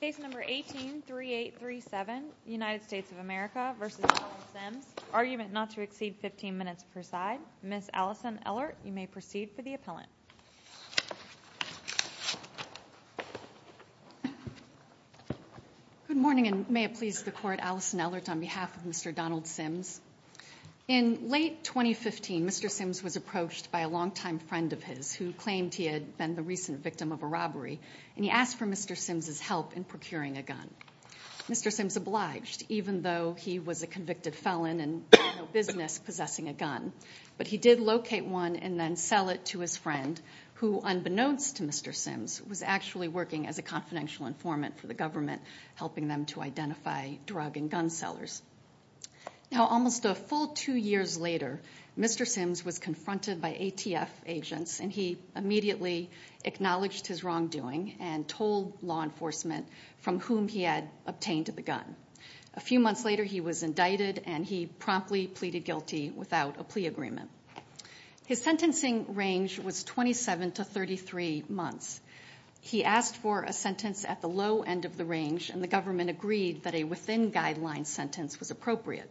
Case number 183837, United States of America v. Donald Sims, argument not to exceed 15 minutes per side, Ms. Allison Ellert, you may proceed for the appellant. Good morning and may it please the court, Allison Ellert on behalf of Mr. Donald Sims. In late 2015, Mr. Sims was approached by a longtime friend of his who claimed he had been the recent victim of a robbery, and he asked for Mr. Sims' help in procuring a gun. Mr. Sims obliged, even though he was a convicted felon and had no business possessing a gun. But he did locate one and then sell it to his friend, who, unbeknownst to Mr. Sims, was actually working as a confidential informant for the government, helping them to identify drug and gun sellers. Now, almost a full two years later, Mr. Sims was confronted by ATF agents, and he immediately acknowledged his wrongdoing and told law enforcement from whom he had obtained the gun. A few months later, he was indicted, and he promptly pleaded guilty without a plea agreement. His sentencing range was 27 to 33 months. He asked for a sentence at the low end of the range, and the government agreed that a within-guideline sentence was appropriate.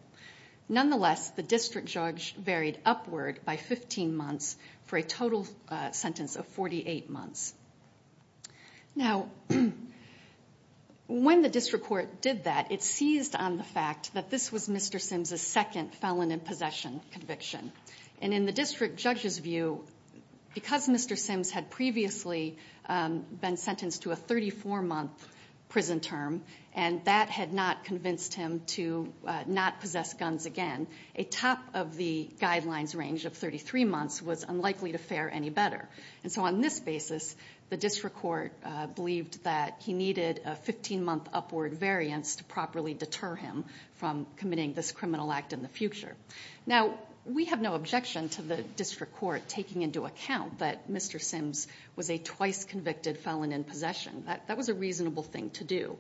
Nonetheless, the district judge varied upward by 15 months for a total sentence of 48 months. Now, when the district court did that, it seized on the fact that this was Mr. Sims' second felon in possession conviction. And in the district judge's view, because Mr. Sims had previously been sentenced to a 34-month prison term, and that had not convinced him to not possess guns again, a top-of-the-guidelines range of 33 months was unlikely to fare any better. And so on this basis, the district court believed that he needed a 15-month upward variance to properly deter him from committing this criminal act in the future. Now, we have no objection to the district court taking into account that Mr. Sims was a twice-convicted felon in possession. That was a reasonable thing to do.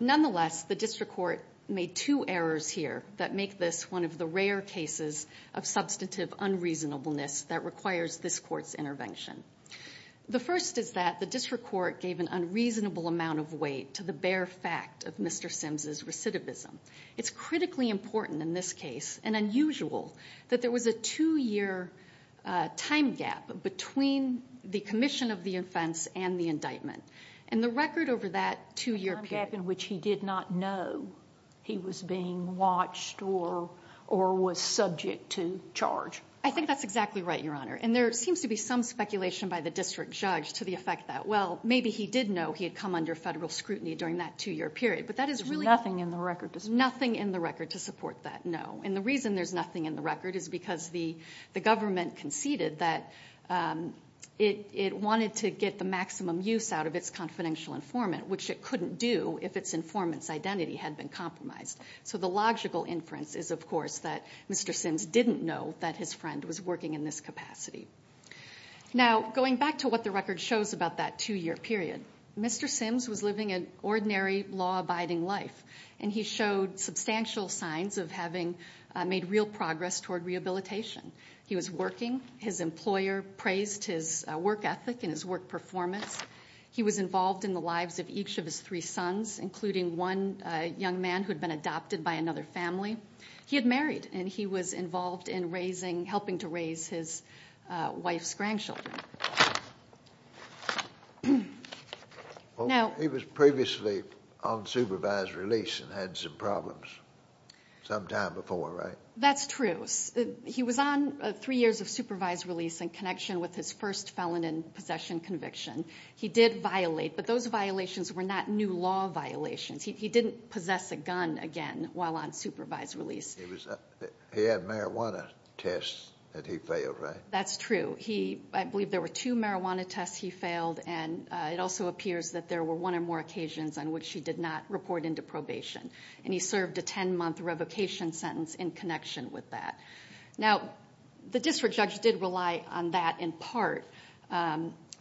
Nonetheless, the district court made two errors here that make this one of the rare cases of substantive unreasonableness that requires this court's intervention. The first is that the district court gave an unreasonable amount of weight to the bare fact of Mr. Sims' recidivism. It's critically important in this case, and unusual, that there was a two-year time gap between the commission of the offense and the indictment. And the record over that two-year period— A time gap in which he did not know he was being watched or was subject to charge. I think that's exactly right, Your Honor. And there seems to be some speculation by the district judge to the effect that, well, maybe he did know he had come under federal scrutiny during that two-year period. But that is really— There's nothing in the record to support that. Nothing in the record to support that, no. And the reason there's nothing in the record is because the government conceded that it wanted to get the maximum use out of its confidential informant, which it couldn't do if its informant's identity had been compromised. So the logical inference is, of course, that Mr. Sims didn't know that his friend was working in this capacity. Now, going back to what the record shows about that two-year period, Mr. Sims was living an ordinary, law-abiding life, and he showed substantial signs of having made real progress toward rehabilitation. He was working. His employer praised his work ethic and his work performance. He was involved in the lives of each of his three sons, including one young man who had been adopted by another family. He had married, and he was involved in helping to raise his wife's grandchildren. Now— He was previously on supervised release and had some problems sometime before, right? That's true. He was on three years of supervised release in connection with his first felon and possession conviction. He did violate, but those violations were not new law violations. He didn't possess a gun again while on supervised release. He had marijuana tests that he failed, right? That's true. I believe there were two marijuana tests he failed, and it also appears that there were one or more occasions on which he did not report into probation, and he served a 10-month revocation sentence in connection with that. Now, the district judge did rely on that in part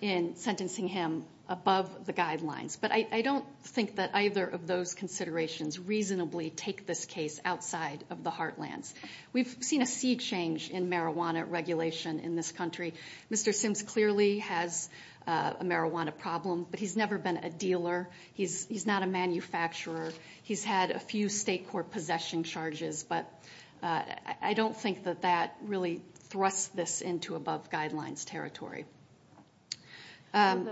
in sentencing him above the guidelines, but I don't think that either of those considerations reasonably take this case outside of the heartlands. We've seen a sea change in marijuana regulation in this country. Mr. Sims clearly has a marijuana problem, but he's never been a dealer. He's not a manufacturer. He's had a few state court possession charges, but I don't think that that really thrusts this into above guidelines territory. I'm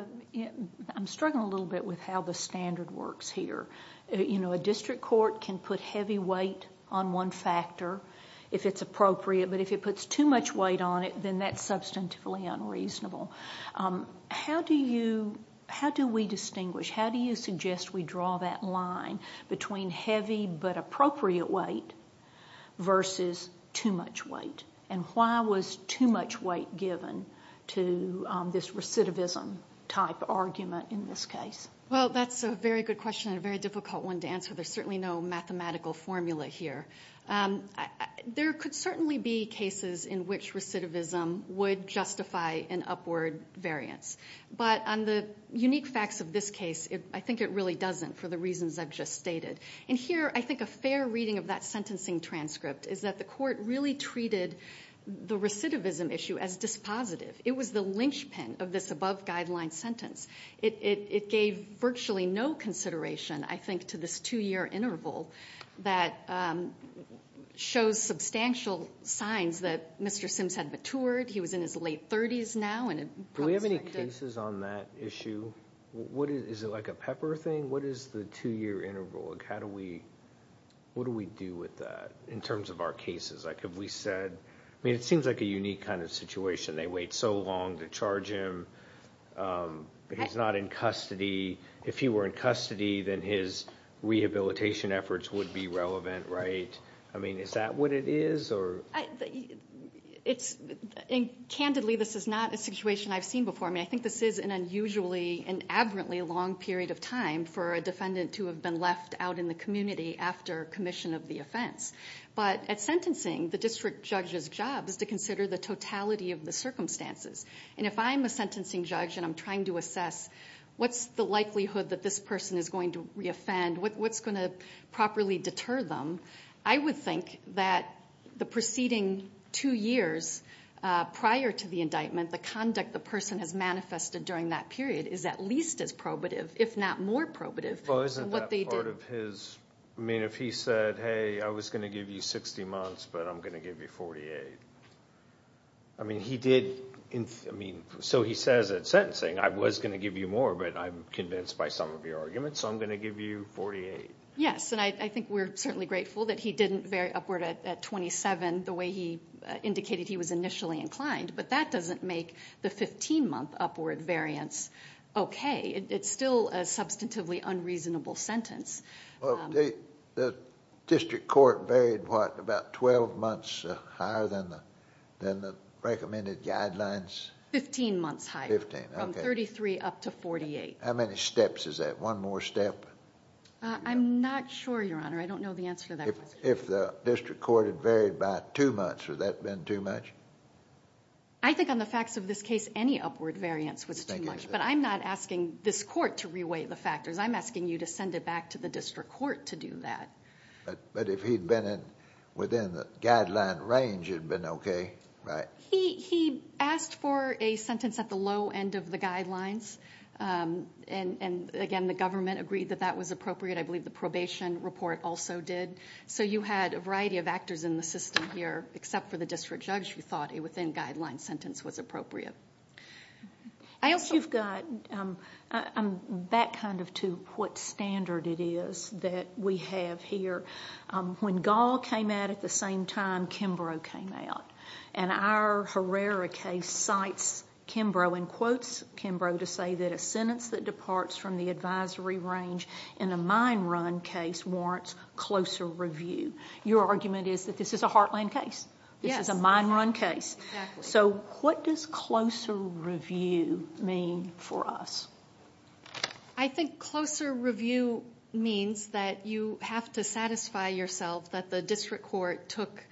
struggling a little bit with how the standard works here. A district court can put heavy weight on one factor if it's appropriate, but if it puts too much weight on it, then that's substantively unreasonable. How do we distinguish? How do you suggest we draw that line between heavy but appropriate weight versus too much weight, and why was too much weight given to this recidivism-type argument in this case? Well, that's a very good question and a very difficult one to answer. There's certainly no mathematical formula here. There could certainly be cases in which recidivism would justify an upward variance, but on the unique facts of this case, I think it really doesn't for the reasons I've just stated. And here, I think a fair reading of that sentencing transcript is that the court really treated the recidivism issue as dispositive. It was the lynchpin of this above-guideline sentence. It gave virtually no consideration, I think, to this two-year interval that shows substantial signs that Mr. Sims had matured. He was in his late 30s now, and it probably wasn't good. Do we have any cases on that issue? Is it like a pepper thing? What is the two-year interval? What do we do with that in terms of our cases? I mean, it seems like a unique kind of situation. They wait so long to charge him. He's not in custody. If he were in custody, then his rehabilitation efforts would be relevant, right? I mean, is that what it is? Candidly, this is not a situation I've seen before. I mean, I think this is an unusually and abruptly long period of time for a defendant to have been left out in the community after commission of the offense. But at sentencing, the district judge's job is to consider the totality of the circumstances. And if I'm a sentencing judge and I'm trying to assess what's the likelihood that this person is going to reoffend, what's going to properly deter them, I would think that the preceding two years prior to the indictment, the conduct the person has manifested during that period is at least as probative, if not more probative than what they did. Well, isn't that part of his, I mean, if he said, hey, I was going to give you 60 months, but I'm going to give you 48. I mean, he did, I mean, so he says at sentencing, I was going to give you more, but I'm convinced by some of your arguments, so I'm going to give you 48. Yes, and I think we're certainly grateful that he didn't vary upward at 27 the way he indicated he was initially inclined. But that doesn't make the 15-month upward variance okay. It's still a substantively unreasonable sentence. The district court varied what, about 12 months higher than the recommended guidelines? Fifteen months higher. Fifteen, okay. From 33 up to 48. How many steps is that, one more step? I'm not sure, Your Honor. I don't know the answer to that question. If the district court had varied by two months, would that have been too much? I think on the facts of this case, any upward variance was too much, but I'm not asking this court to reweight the factors. I'm asking you to send it back to the district court to do that. But if he'd been within the guideline range, it would have been okay, right? He asked for a sentence at the low end of the guidelines, and again, the government agreed that that was appropriate. I believe the probation report also did. So you had a variety of actors in the system here, except for the district judge, who thought a within-guideline sentence was appropriate. I'm back kind of to what standard it is that we have here. When Gall came out at the same time, Kimbrough came out. And our Herrera case cites Kimbrough and quotes Kimbrough to say that a sentence that departs from the advisory range in a mine run case warrants closer review. Your argument is that this is a Heartland case. Yes. This is a mine run case. Exactly. So what does closer review mean for us? I think closer review means that you have to satisfy yourself that the district court took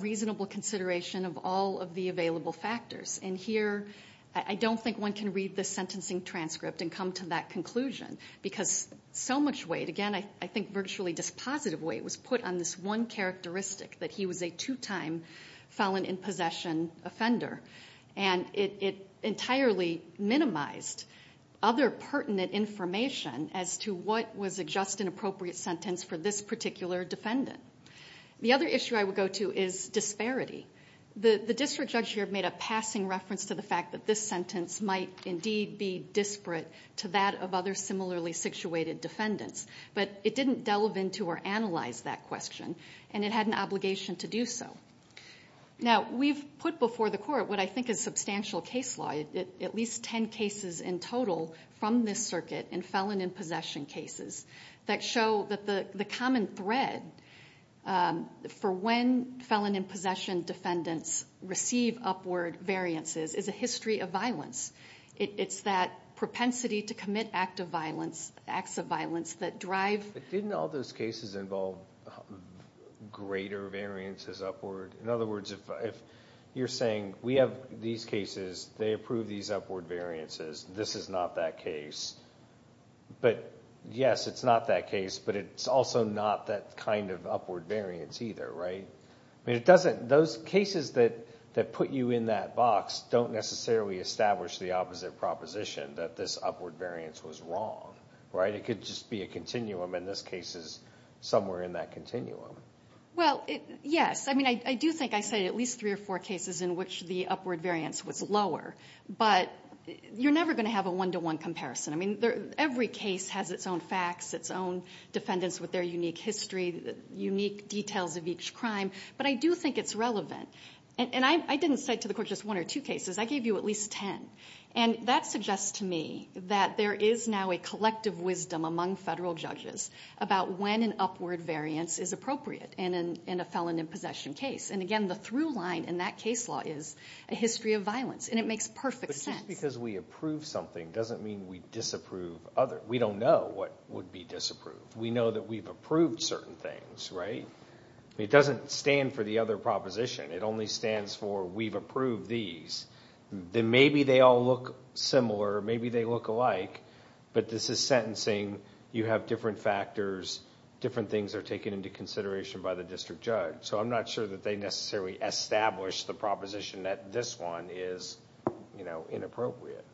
reasonable consideration of all of the available factors. And here, I don't think one can read the sentencing transcript and come to that conclusion because so much weight, again, I think virtually dispositive weight, was put on this one characteristic that he was a two-time felon in possession offender. And it entirely minimized other pertinent information as to what was a just and appropriate sentence for this particular defendant. The other issue I would go to is disparity. The district judge here made a passing reference to the fact that this sentence might indeed be disparate to that of other similarly situated defendants. But it didn't delve into or analyze that question, and it had an obligation to do so. Now, we've put before the court what I think is substantial case law, at least ten cases in total from this circuit in felon in possession cases that show that the common thread for when felon in possession defendants receive upward variances is a history of violence. It's that propensity to commit acts of violence that drive... But didn't all those cases involve greater variances upward? In other words, if you're saying we have these cases, they approve these upward variances, this is not that case. But yes, it's not that case, but it's also not that kind of upward variance either, right? Those cases that put you in that box don't necessarily establish the opposite proposition, that this upward variance was wrong, right? It could just be a continuum, and this case is somewhere in that continuum. Well, yes. I mean, I do think I cited at least three or four cases in which the upward variance was lower. But you're never going to have a one-to-one comparison. I mean, every case has its own facts, its own defendants with their unique history, unique details of each crime. But I do think it's relevant. And I didn't cite to the court just one or two cases. I gave you at least ten. And that suggests to me that there is now a collective wisdom among federal judges about when an upward variance is appropriate in a felon in possession case. And, again, the through line in that case law is a history of violence, and it makes perfect sense. But just because we approve something doesn't mean we disapprove others. We don't know what would be disapproved. We know that we've approved certain things, right? It doesn't stand for the other proposition. It only stands for we've approved these. Then maybe they all look similar, maybe they look alike. But this is sentencing. You have different factors. Different things are taken into consideration by the district judge. So I'm not sure that they necessarily establish the proposition that this one is inappropriate.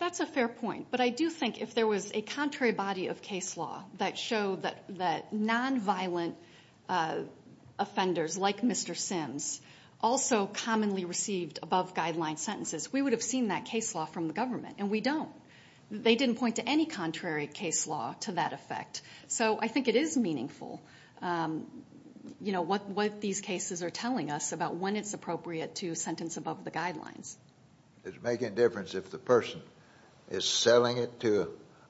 That's a fair point. But I do think if there was a contrary body of case law that showed that nonviolent offenders like Mr. Sims also commonly received above-guideline sentences, we would have seen that case law from the government, and we don't. They didn't point to any contrary case law to that effect. So I think it is meaningful what these cases are telling us about when it's appropriate to sentence above the guidelines. Does it make any difference if the person is selling it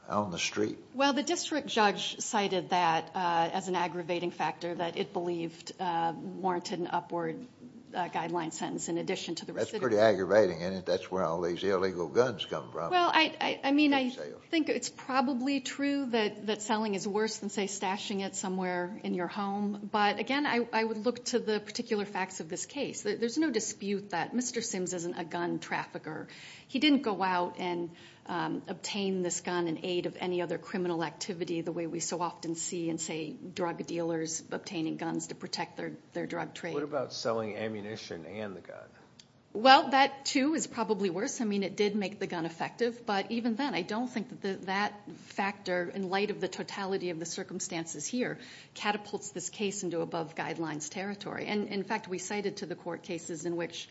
on the street? Well, the district judge cited that as an aggravating factor, that it believed warranted an upward guideline sentence in addition to the recidivism. That's pretty aggravating, isn't it? That's where all these illegal guns come from. Well, I mean, I think it's probably true that selling is worse than, say, stashing it somewhere in your home. But, again, I would look to the particular facts of this case. There's no dispute that Mr. Sims isn't a gun trafficker. He didn't go out and obtain this gun in aid of any other criminal activity the way we so often see and say drug dealers obtaining guns to protect their drug trade. What about selling ammunition and the gun? Well, that, too, is probably worse. I mean, it did make the gun effective. But even then, I don't think that that factor, in light of the totality of the circumstances here, catapults this case into above-guidelines territory. And, in fact, we cited to the court cases in which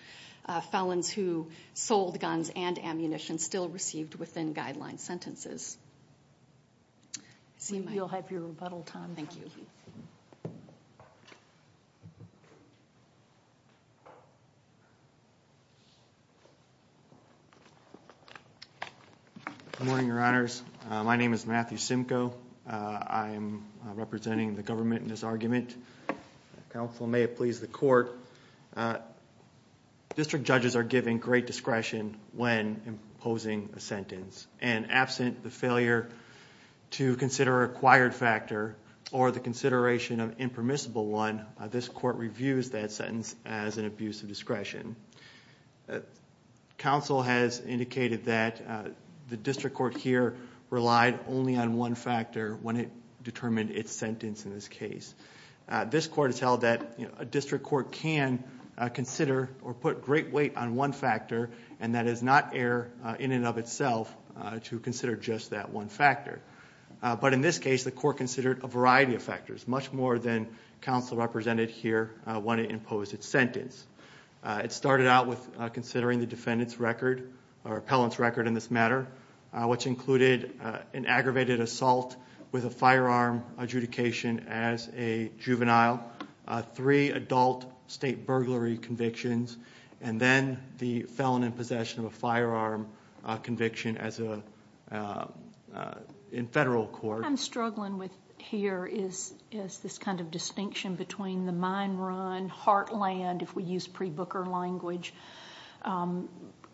felons who sold guns and ammunition still received within-guideline sentences. You'll have your rebuttal time. Thank you. Good morning, Your Honors. My name is Matthew Simcoe. I'm representing the government in this argument. Counsel, may it please the court. District judges are given great discretion when imposing a sentence. And absent the failure to consider a required factor or the consideration of an impermissible one, this court reviews that sentence as an abuse of discretion. Counsel has indicated that the district court here relied only on one factor when it determined its sentence in this case. This court has held that a district court can consider or put great weight on one factor, and that it is not error in and of itself to consider just that one factor. But in this case, the court considered a variety of factors, It started out with considering the defendant's record or appellant's record in this matter, which included an aggravated assault with a firearm adjudication as a juvenile, three adult state burglary convictions, and then the felon in possession of a firearm conviction in federal court. What I'm struggling with here is this kind of distinction between the mine run, heartland, if we use pre-Booker language,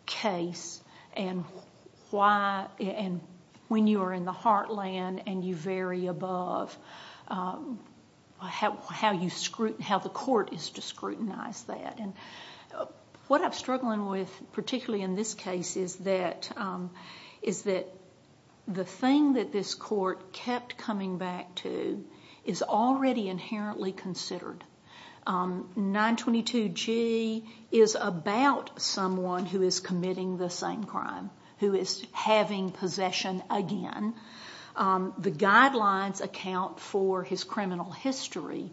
case, and when you are in the heartland and you vary above, how the court is to scrutinize that. What I'm struggling with, particularly in this case, is that the thing that this court kept coming back to is already inherently considered. 922G is about someone who is committing the same crime, who is having possession again. The guidelines account for his criminal history.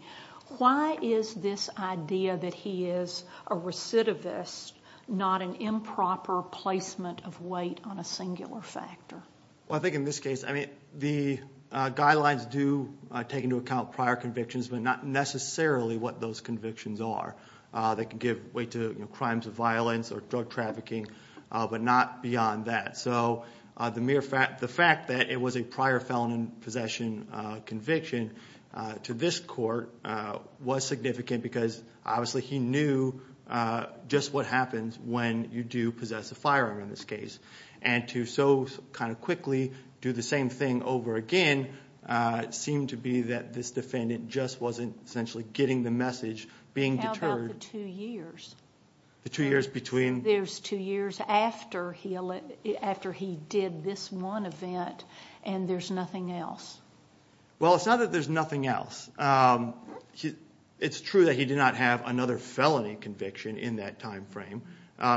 Why is this idea that he is a recidivist not an improper placement of weight on a singular factor? I think in this case, the guidelines do take into account prior convictions, but not necessarily what those convictions are. They can give weight to crimes of violence or drug trafficking, but not beyond that. The mere fact that it was a prior felon in possession conviction to this court was significant because obviously he knew just what happens when you do possess a firearm in this case. To so quickly do the same thing over again seemed to be that this defendant just wasn't essentially getting the message, being deterred. How about the two years? The two years between? There's two years after he did this one event, and there's nothing else. Well, it's not that there's nothing else. It's true that he did not have another felony conviction in that time frame.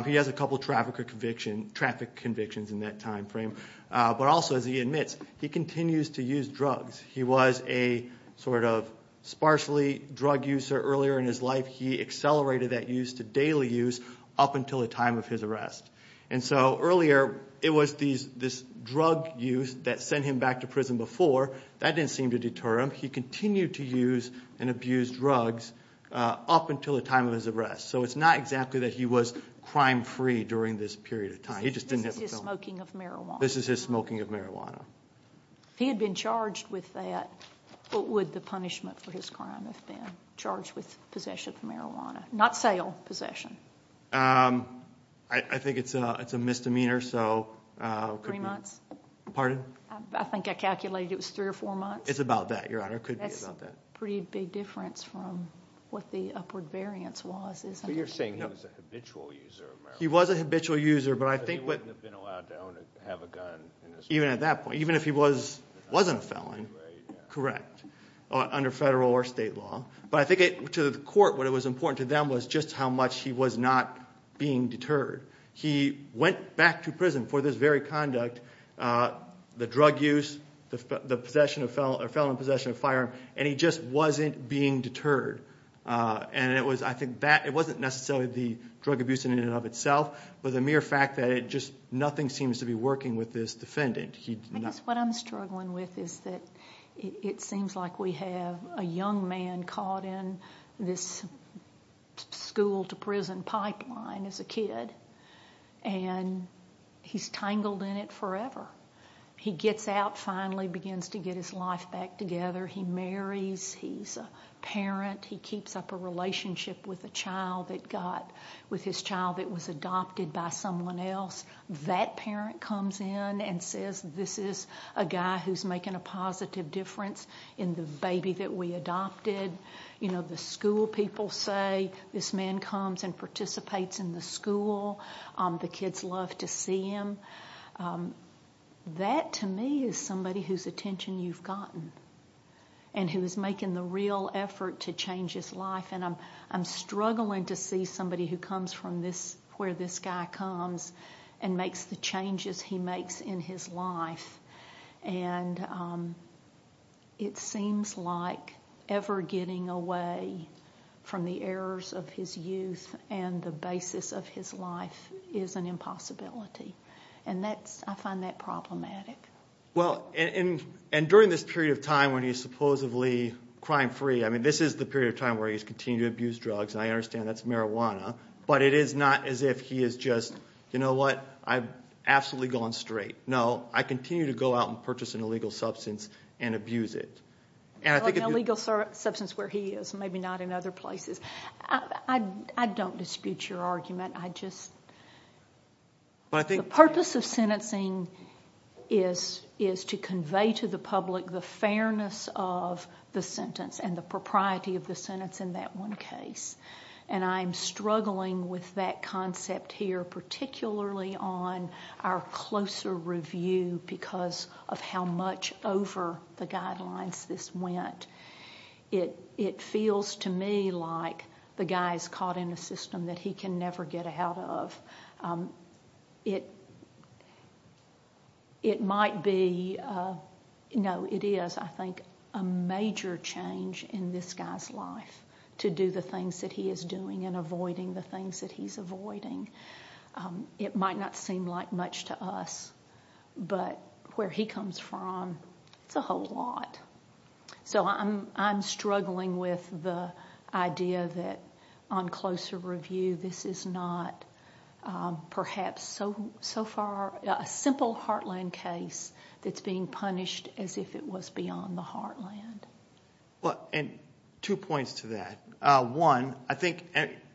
He has a couple traffic convictions in that time frame. But also, as he admits, he continues to use drugs. He was a sort of sparsely drug user earlier in his life. He accelerated that use to daily use up until the time of his arrest. And so earlier it was this drug use that sent him back to prison before. That didn't seem to deter him. He continued to use and abuse drugs up until the time of his arrest. So it's not exactly that he was crime-free during this period of time. He just didn't have a felony. This is his smoking of marijuana. This is his smoking of marijuana. If he had been charged with that, what would the punishment for his crime have been? Charged with possession of marijuana. Not sale, possession. I think it's a misdemeanor. Three months? Pardon? I think I calculated it was three or four months. It's about that, Your Honor. It could be about that. That's a pretty big difference from what the upward variance was, isn't it? But you're saying he was a habitual user of marijuana. He was a habitual user, but I think what— But he wouldn't have been allowed to own or have a gun. Even at that point. Even if he wasn't a felon. Correct. Under federal or state law. But I think to the court, what was important to them was just how much he was not being deterred. He went back to prison for this very conduct, the drug use, the possession of— or felony possession of a firearm, and he just wasn't being deterred. And it was—I think that—it wasn't necessarily the drug abuse in and of itself, but the mere fact that it just—nothing seems to be working with this defendant. I guess what I'm struggling with is that it seems like we have a young man caught in this school-to-prison pipeline as a kid, and he's tangled in it forever. He gets out, finally begins to get his life back together. He marries. He's a parent. He keeps up a relationship with a child that got—with his child that was adopted by someone else. That parent comes in and says, this is a guy who's making a positive difference in the baby that we adopted. You know, the school people say, this man comes and participates in the school. The kids love to see him. That, to me, is somebody whose attention you've gotten and who is making the real effort to change his life. And I'm struggling to see somebody who comes from where this guy comes and makes the changes he makes in his life. And it seems like ever getting away from the errors of his youth and the basis of his life is an impossibility. And that's—I find that problematic. Well, and during this period of time when he's supposedly crime-free, I mean, this is the period of time where he's continued to abuse drugs, and I understand that's marijuana, but it is not as if he is just, you know what, I've absolutely gone straight. No, I continue to go out and purchase an illegal substance and abuse it. An illegal substance where he is, maybe not in other places. I don't dispute your argument. I just—the purpose of sentencing is to convey to the public the fairness of the sentence and the propriety of the sentence in that one case. And I'm struggling with that concept here, particularly on our closer review because of how much over the guidelines this went. It feels to me like the guy's caught in a system that he can never get out of. It might be—no, it is, I think, a major change in this guy's life to do the things that he is doing and avoiding the things that he's avoiding. It might not seem like much to us, but where he comes from, it's a whole lot. So I'm struggling with the idea that on closer review, this is not perhaps so far a simple Heartland case that's being punished as if it was beyond the Heartland. And two points to that. One, I think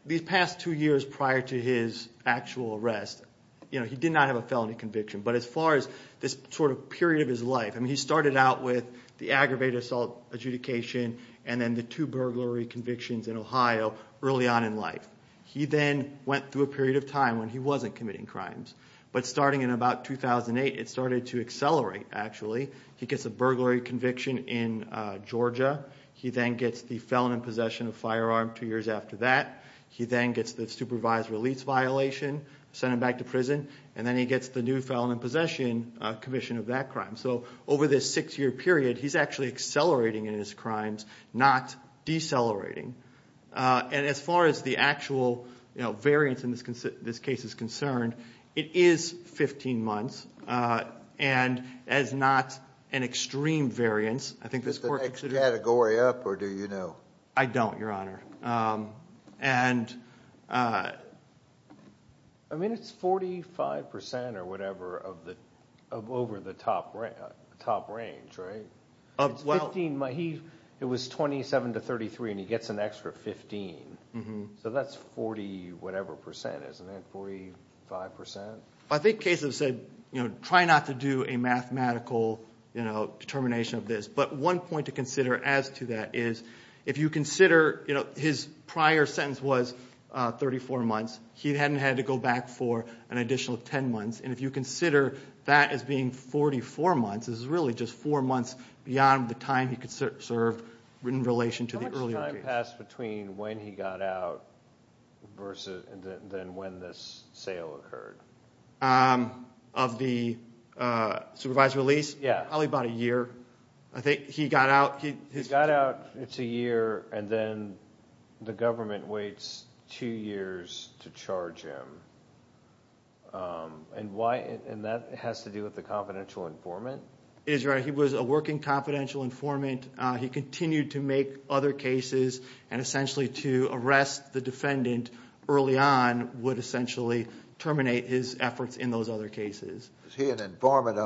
these past two years prior to his actual arrest, he did not have a felony conviction. But as far as this sort of period of his life, he started out with the aggravated assault adjudication and then the two burglary convictions in Ohio early on in life. He then went through a period of time when he wasn't committing crimes. But starting in about 2008, it started to accelerate, actually. He gets a burglary conviction in Georgia. He then gets the felon in possession of a firearm two years after that. He then gets the supervised release violation, sent him back to prison. And then he gets the new felon in possession conviction of that crime. So over this six-year period, he's actually accelerating in his crimes, not decelerating. And as far as the actual variance in this case is concerned, it is 15 months. And as not an extreme variance, I think this court considers it. Is the next category up, or do you know? I don't, Your Honor. I mean, it's 45% or whatever over the top range, right? It was 27 to 33, and he gets an extra 15. So that's 40 whatever percent, isn't it? 45%? I think cases have said try not to do a mathematical determination of this. But one point to consider as to that is if you consider his prior sentence was 34 months, he hadn't had to go back for an additional 10 months. And if you consider that as being 44 months, this is really just four months beyond the time he could serve in relation to the earlier case. How much time passed between when he got out than when this sale occurred? Of the supervised release? Yeah. Probably about a year. He got out, it's a year, and then the government waits two years to charge him. And that has to do with the confidential informant? He was a working confidential informant. He continued to make other cases, and essentially to arrest the defendant early on would essentially terminate his efforts in those other cases. Was he an informant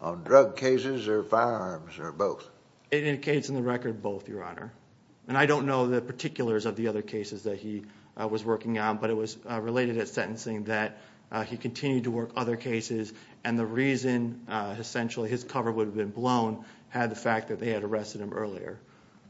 on drug cases or firearms or both? It indicates in the record both, Your Honor. And I don't know the particulars of the other cases that he was working on, but it was related at sentencing that he continued to work other cases, and the reason essentially his cover would have been blown had the fact that they had arrested him earlier.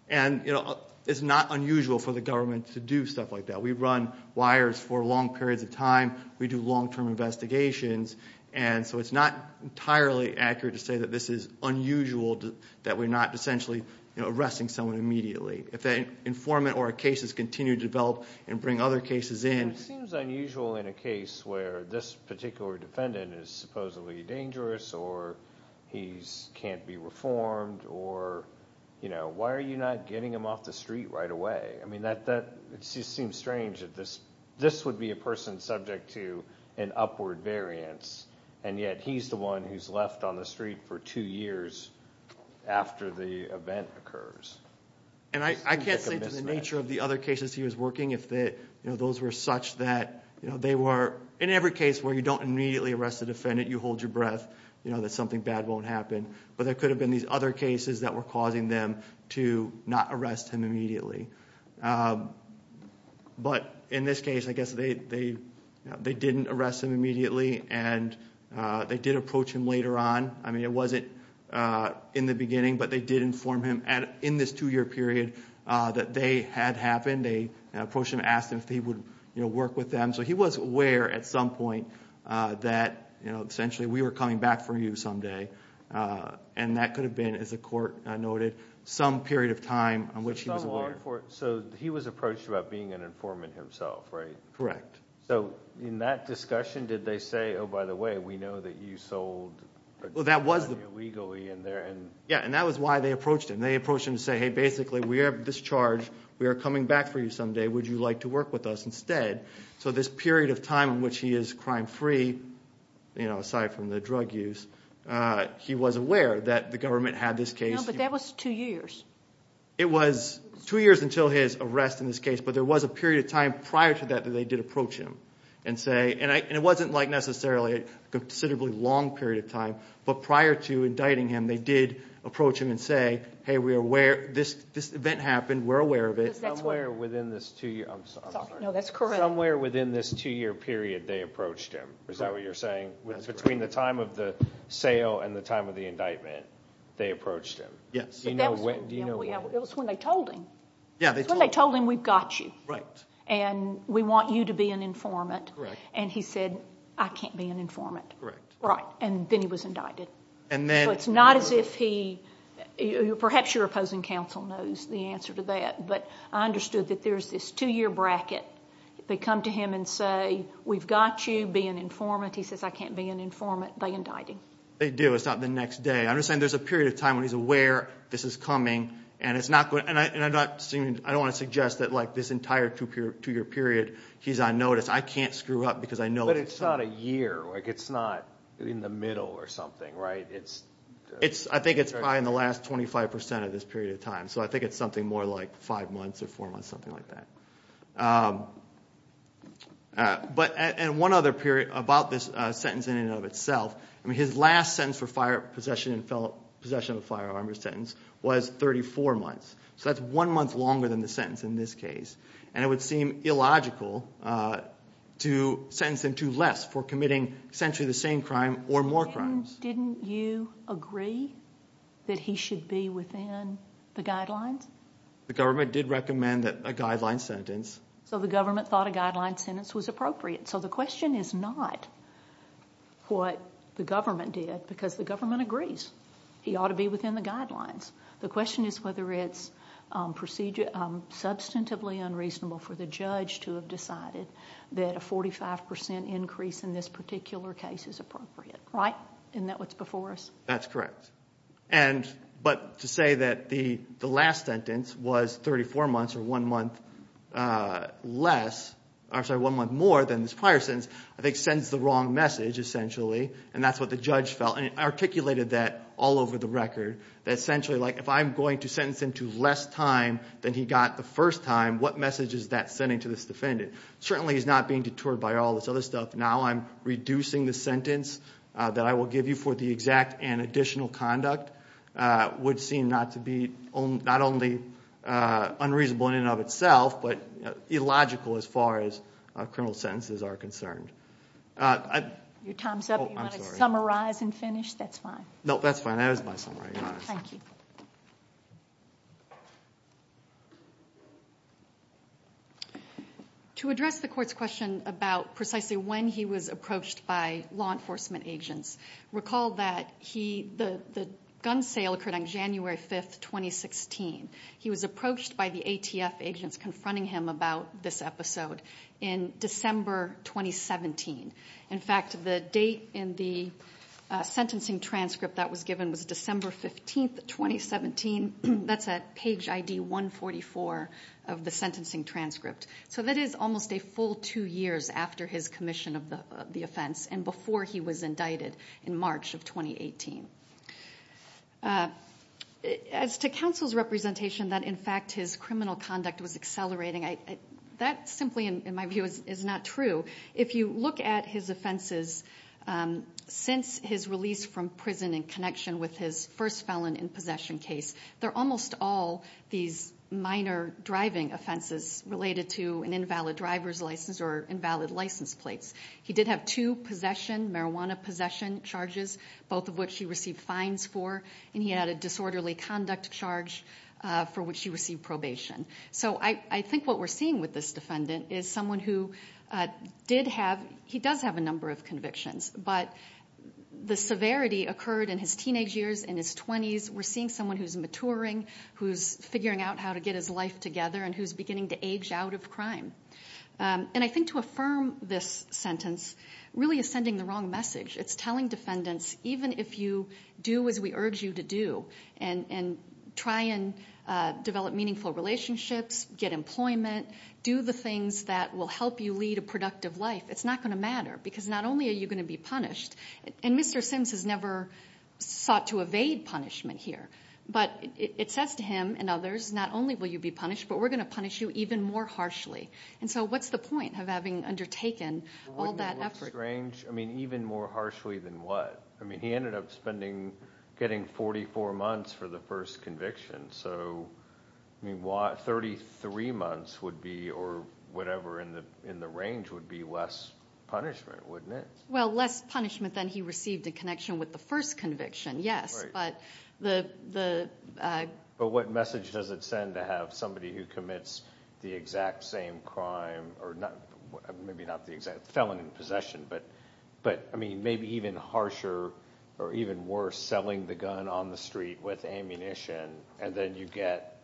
And, you know, it's not unusual for the government to do stuff like that. We run wires for long periods of time. We do long-term investigations. And so it's not entirely accurate to say that this is unusual, that we're not essentially arresting someone immediately. If an informant or a case is continued to develop and bring other cases in. It seems unusual in a case where this particular defendant is supposedly dangerous or he can't be reformed or, you know, why are you not getting him off the street right away? I mean, it seems strange that this would be a person subject to an upward variance, and yet he's the one who's left on the street for two years after the event occurs. And I can't say to the nature of the other cases he was working if those were such that, you know, they were in every case where you don't immediately arrest a defendant, you hold your breath, you know, that something bad won't happen. But there could have been these other cases that were causing them to not arrest him immediately. But in this case, I guess they didn't arrest him immediately, and they did approach him later on. I mean, it wasn't in the beginning, but they did inform him in this two-year period that they had happened. They approached him and asked him if he would, you know, work with them. So he was aware at some point that, you know, essentially we were coming back for you someday, and that could have been, as the court noted, some period of time in which he was aware. So he was approached about being an informant himself, right? Correct. So in that discussion, did they say, oh, by the way, we know that you sold illegally in there? Yeah, and that was why they approached him. They approached him to say, hey, basically we have this charge. We are coming back for you someday. Would you like to work with us instead? So this period of time in which he is crime-free, you know, aside from the drug use, he was aware that the government had this case. No, but that was two years. It was two years until his arrest in this case, but there was a period of time prior to that that they did approach him and say, and it wasn't like necessarily a considerably long period of time, but prior to indicting him, they did approach him and say, hey, we are aware. This event happened. We're aware of it. Somewhere within this two-year, I'm sorry. No, that's correct. Somewhere within this two-year period, they approached him. Is that what you're saying? That's correct. Between the time of the sale and the time of the indictment, they approached him. Yes. Do you know when? It was when they told him. Yeah, they told him. When they told him, we've got you. Right. And we want you to be an informant. Correct. And he said, I can't be an informant. Correct. Right, and then he was indicted. So it's not as if he, perhaps your opposing counsel knows the answer to that, but I understood that there's this two-year bracket. They come to him and say, we've got you. Be an informant. He says, I can't be an informant. They indict him. They do. It's not the next day. I understand there's a period of time when he's aware this is coming, and I don't want to suggest that this entire two-year period he's on notice. I can't screw up because I know. But it's not a year. It's not in the middle or something, right? I think it's probably in the last 25% of this period of time, so I think it's something more like five months or four months, something like that. And one other period about this sentence in and of itself, his last sentence for possession of a firearm or sentence was 34 months. So that's one month longer than the sentence in this case, and it would seem illogical to sentence him to less for committing essentially the same crime or more crimes. Didn't you agree that he should be within the guidelines? The government did recommend a guideline sentence. So the government thought a guideline sentence was appropriate. So the question is not what the government did, because the government agrees he ought to be within the guidelines. The question is whether it's substantively unreasonable for the judge to have decided that a 45% increase in this particular case is appropriate. Right? Isn't that what's before us? That's correct. But to say that the last sentence was 34 months or one month less, I'm sorry, one month more than this prior sentence, I think sends the wrong message essentially, and that's what the judge felt. And he articulated that all over the record, that essentially if I'm going to sentence him to less time than he got the first time, what message is that sending to this defendant? Certainly he's not being deterred by all this other stuff. Now I'm reducing the sentence that I will give you for the exact and additional conduct would seem not to be not only unreasonable in and of itself, but illogical as far as criminal sentences are concerned. Your time's up. You want to summarize and finish? That's fine. No, that's fine. That was my summary. Thank you. To address the court's question about precisely when he was approached by law enforcement agents, recall that the gun sale occurred on January 5th, 2016. He was approached by the ATF agents confronting him about this episode in December 2017. In fact, the date in the sentencing transcript that was given was December 15th, 2017. That's at page ID 144 of the sentencing transcript. So that is almost a full two years after his commission of the offense and before he was indicted in March of 2018. As to counsel's representation that in fact his criminal conduct was accelerating, that simply in my view is not true. If you look at his offenses since his release from prison in connection with his first felon in possession case, they're almost all these minor driving offenses related to an invalid driver's license or invalid license plates. He did have two possession, marijuana possession charges, both of which he received fines for, and he had a disorderly conduct charge for which he received probation. So I think what we're seeing with this defendant is someone who did have, he does have a number of convictions, but the severity occurred in his teenage years, in his 20s. We're seeing someone who's maturing, who's figuring out how to get his life together, and who's beginning to age out of crime. And I think to affirm this sentence really is sending the wrong message. It's telling defendants, even if you do as we urge you to do and try and develop meaningful relationships, get employment, do the things that will help you lead a productive life, it's not going to matter because not only are you going to be punished, and Mr. Sims has never sought to evade punishment here, but it says to him and others, not only will you be punished, but we're going to punish you even more harshly. And so what's the point of having undertaken all that effort? Wouldn't it look strange? I mean even more harshly than what? I mean he ended up spending, getting 44 months for the first conviction. So 33 months would be, or whatever in the range would be less punishment, wouldn't it? Well less punishment than he received in connection with the first conviction, yes. But the. But what message does it send to have somebody who commits the exact same crime or not, maybe not the exact felon in possession, but I mean maybe even harsher or even worse selling the gun on the street with ammunition and then you get,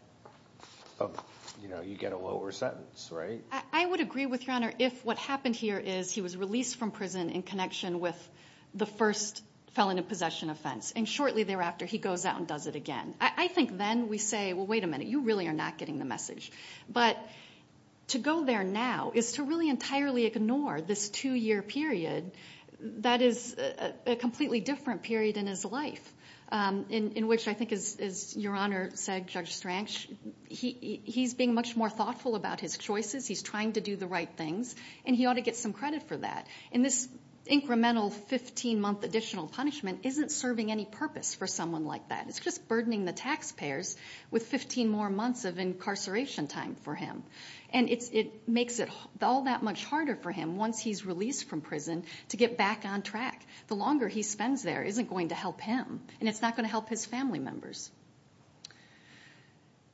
you know, you get a lower sentence, right? I would agree with your honor if what happened here is he was released from prison in connection with the first felon in possession offense, and shortly thereafter he goes out and does it again. I think then we say, well wait a minute, you really are not getting the message. But to go there now is to really entirely ignore this two year period that is a completely different period in his life, in which I think as your honor said, Judge Strang, he's being much more thoughtful about his choices, he's trying to do the right things, and he ought to get some credit for that. And this incremental 15 month additional punishment isn't serving any purpose for someone like that. It's just burdening the taxpayers with 15 more months of incarceration time for him. And it makes it all that much harder for him once he's released from prison to get back on track. The longer he spends there isn't going to help him, and it's not going to help his family members.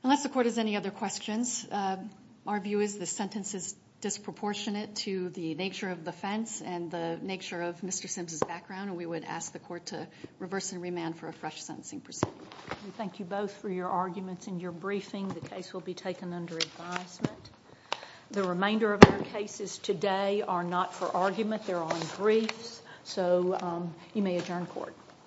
Unless the court has any other questions, our view is this sentence is disproportionate to the nature of the offense and the nature of Mr. Sims' background, and we would ask the court to reverse and remand for a fresh sentencing proceeding. We thank you both for your arguments and your briefing. The case will be taken under advisement. The remainder of our cases today are not for argument. They're on briefs. So you may adjourn court.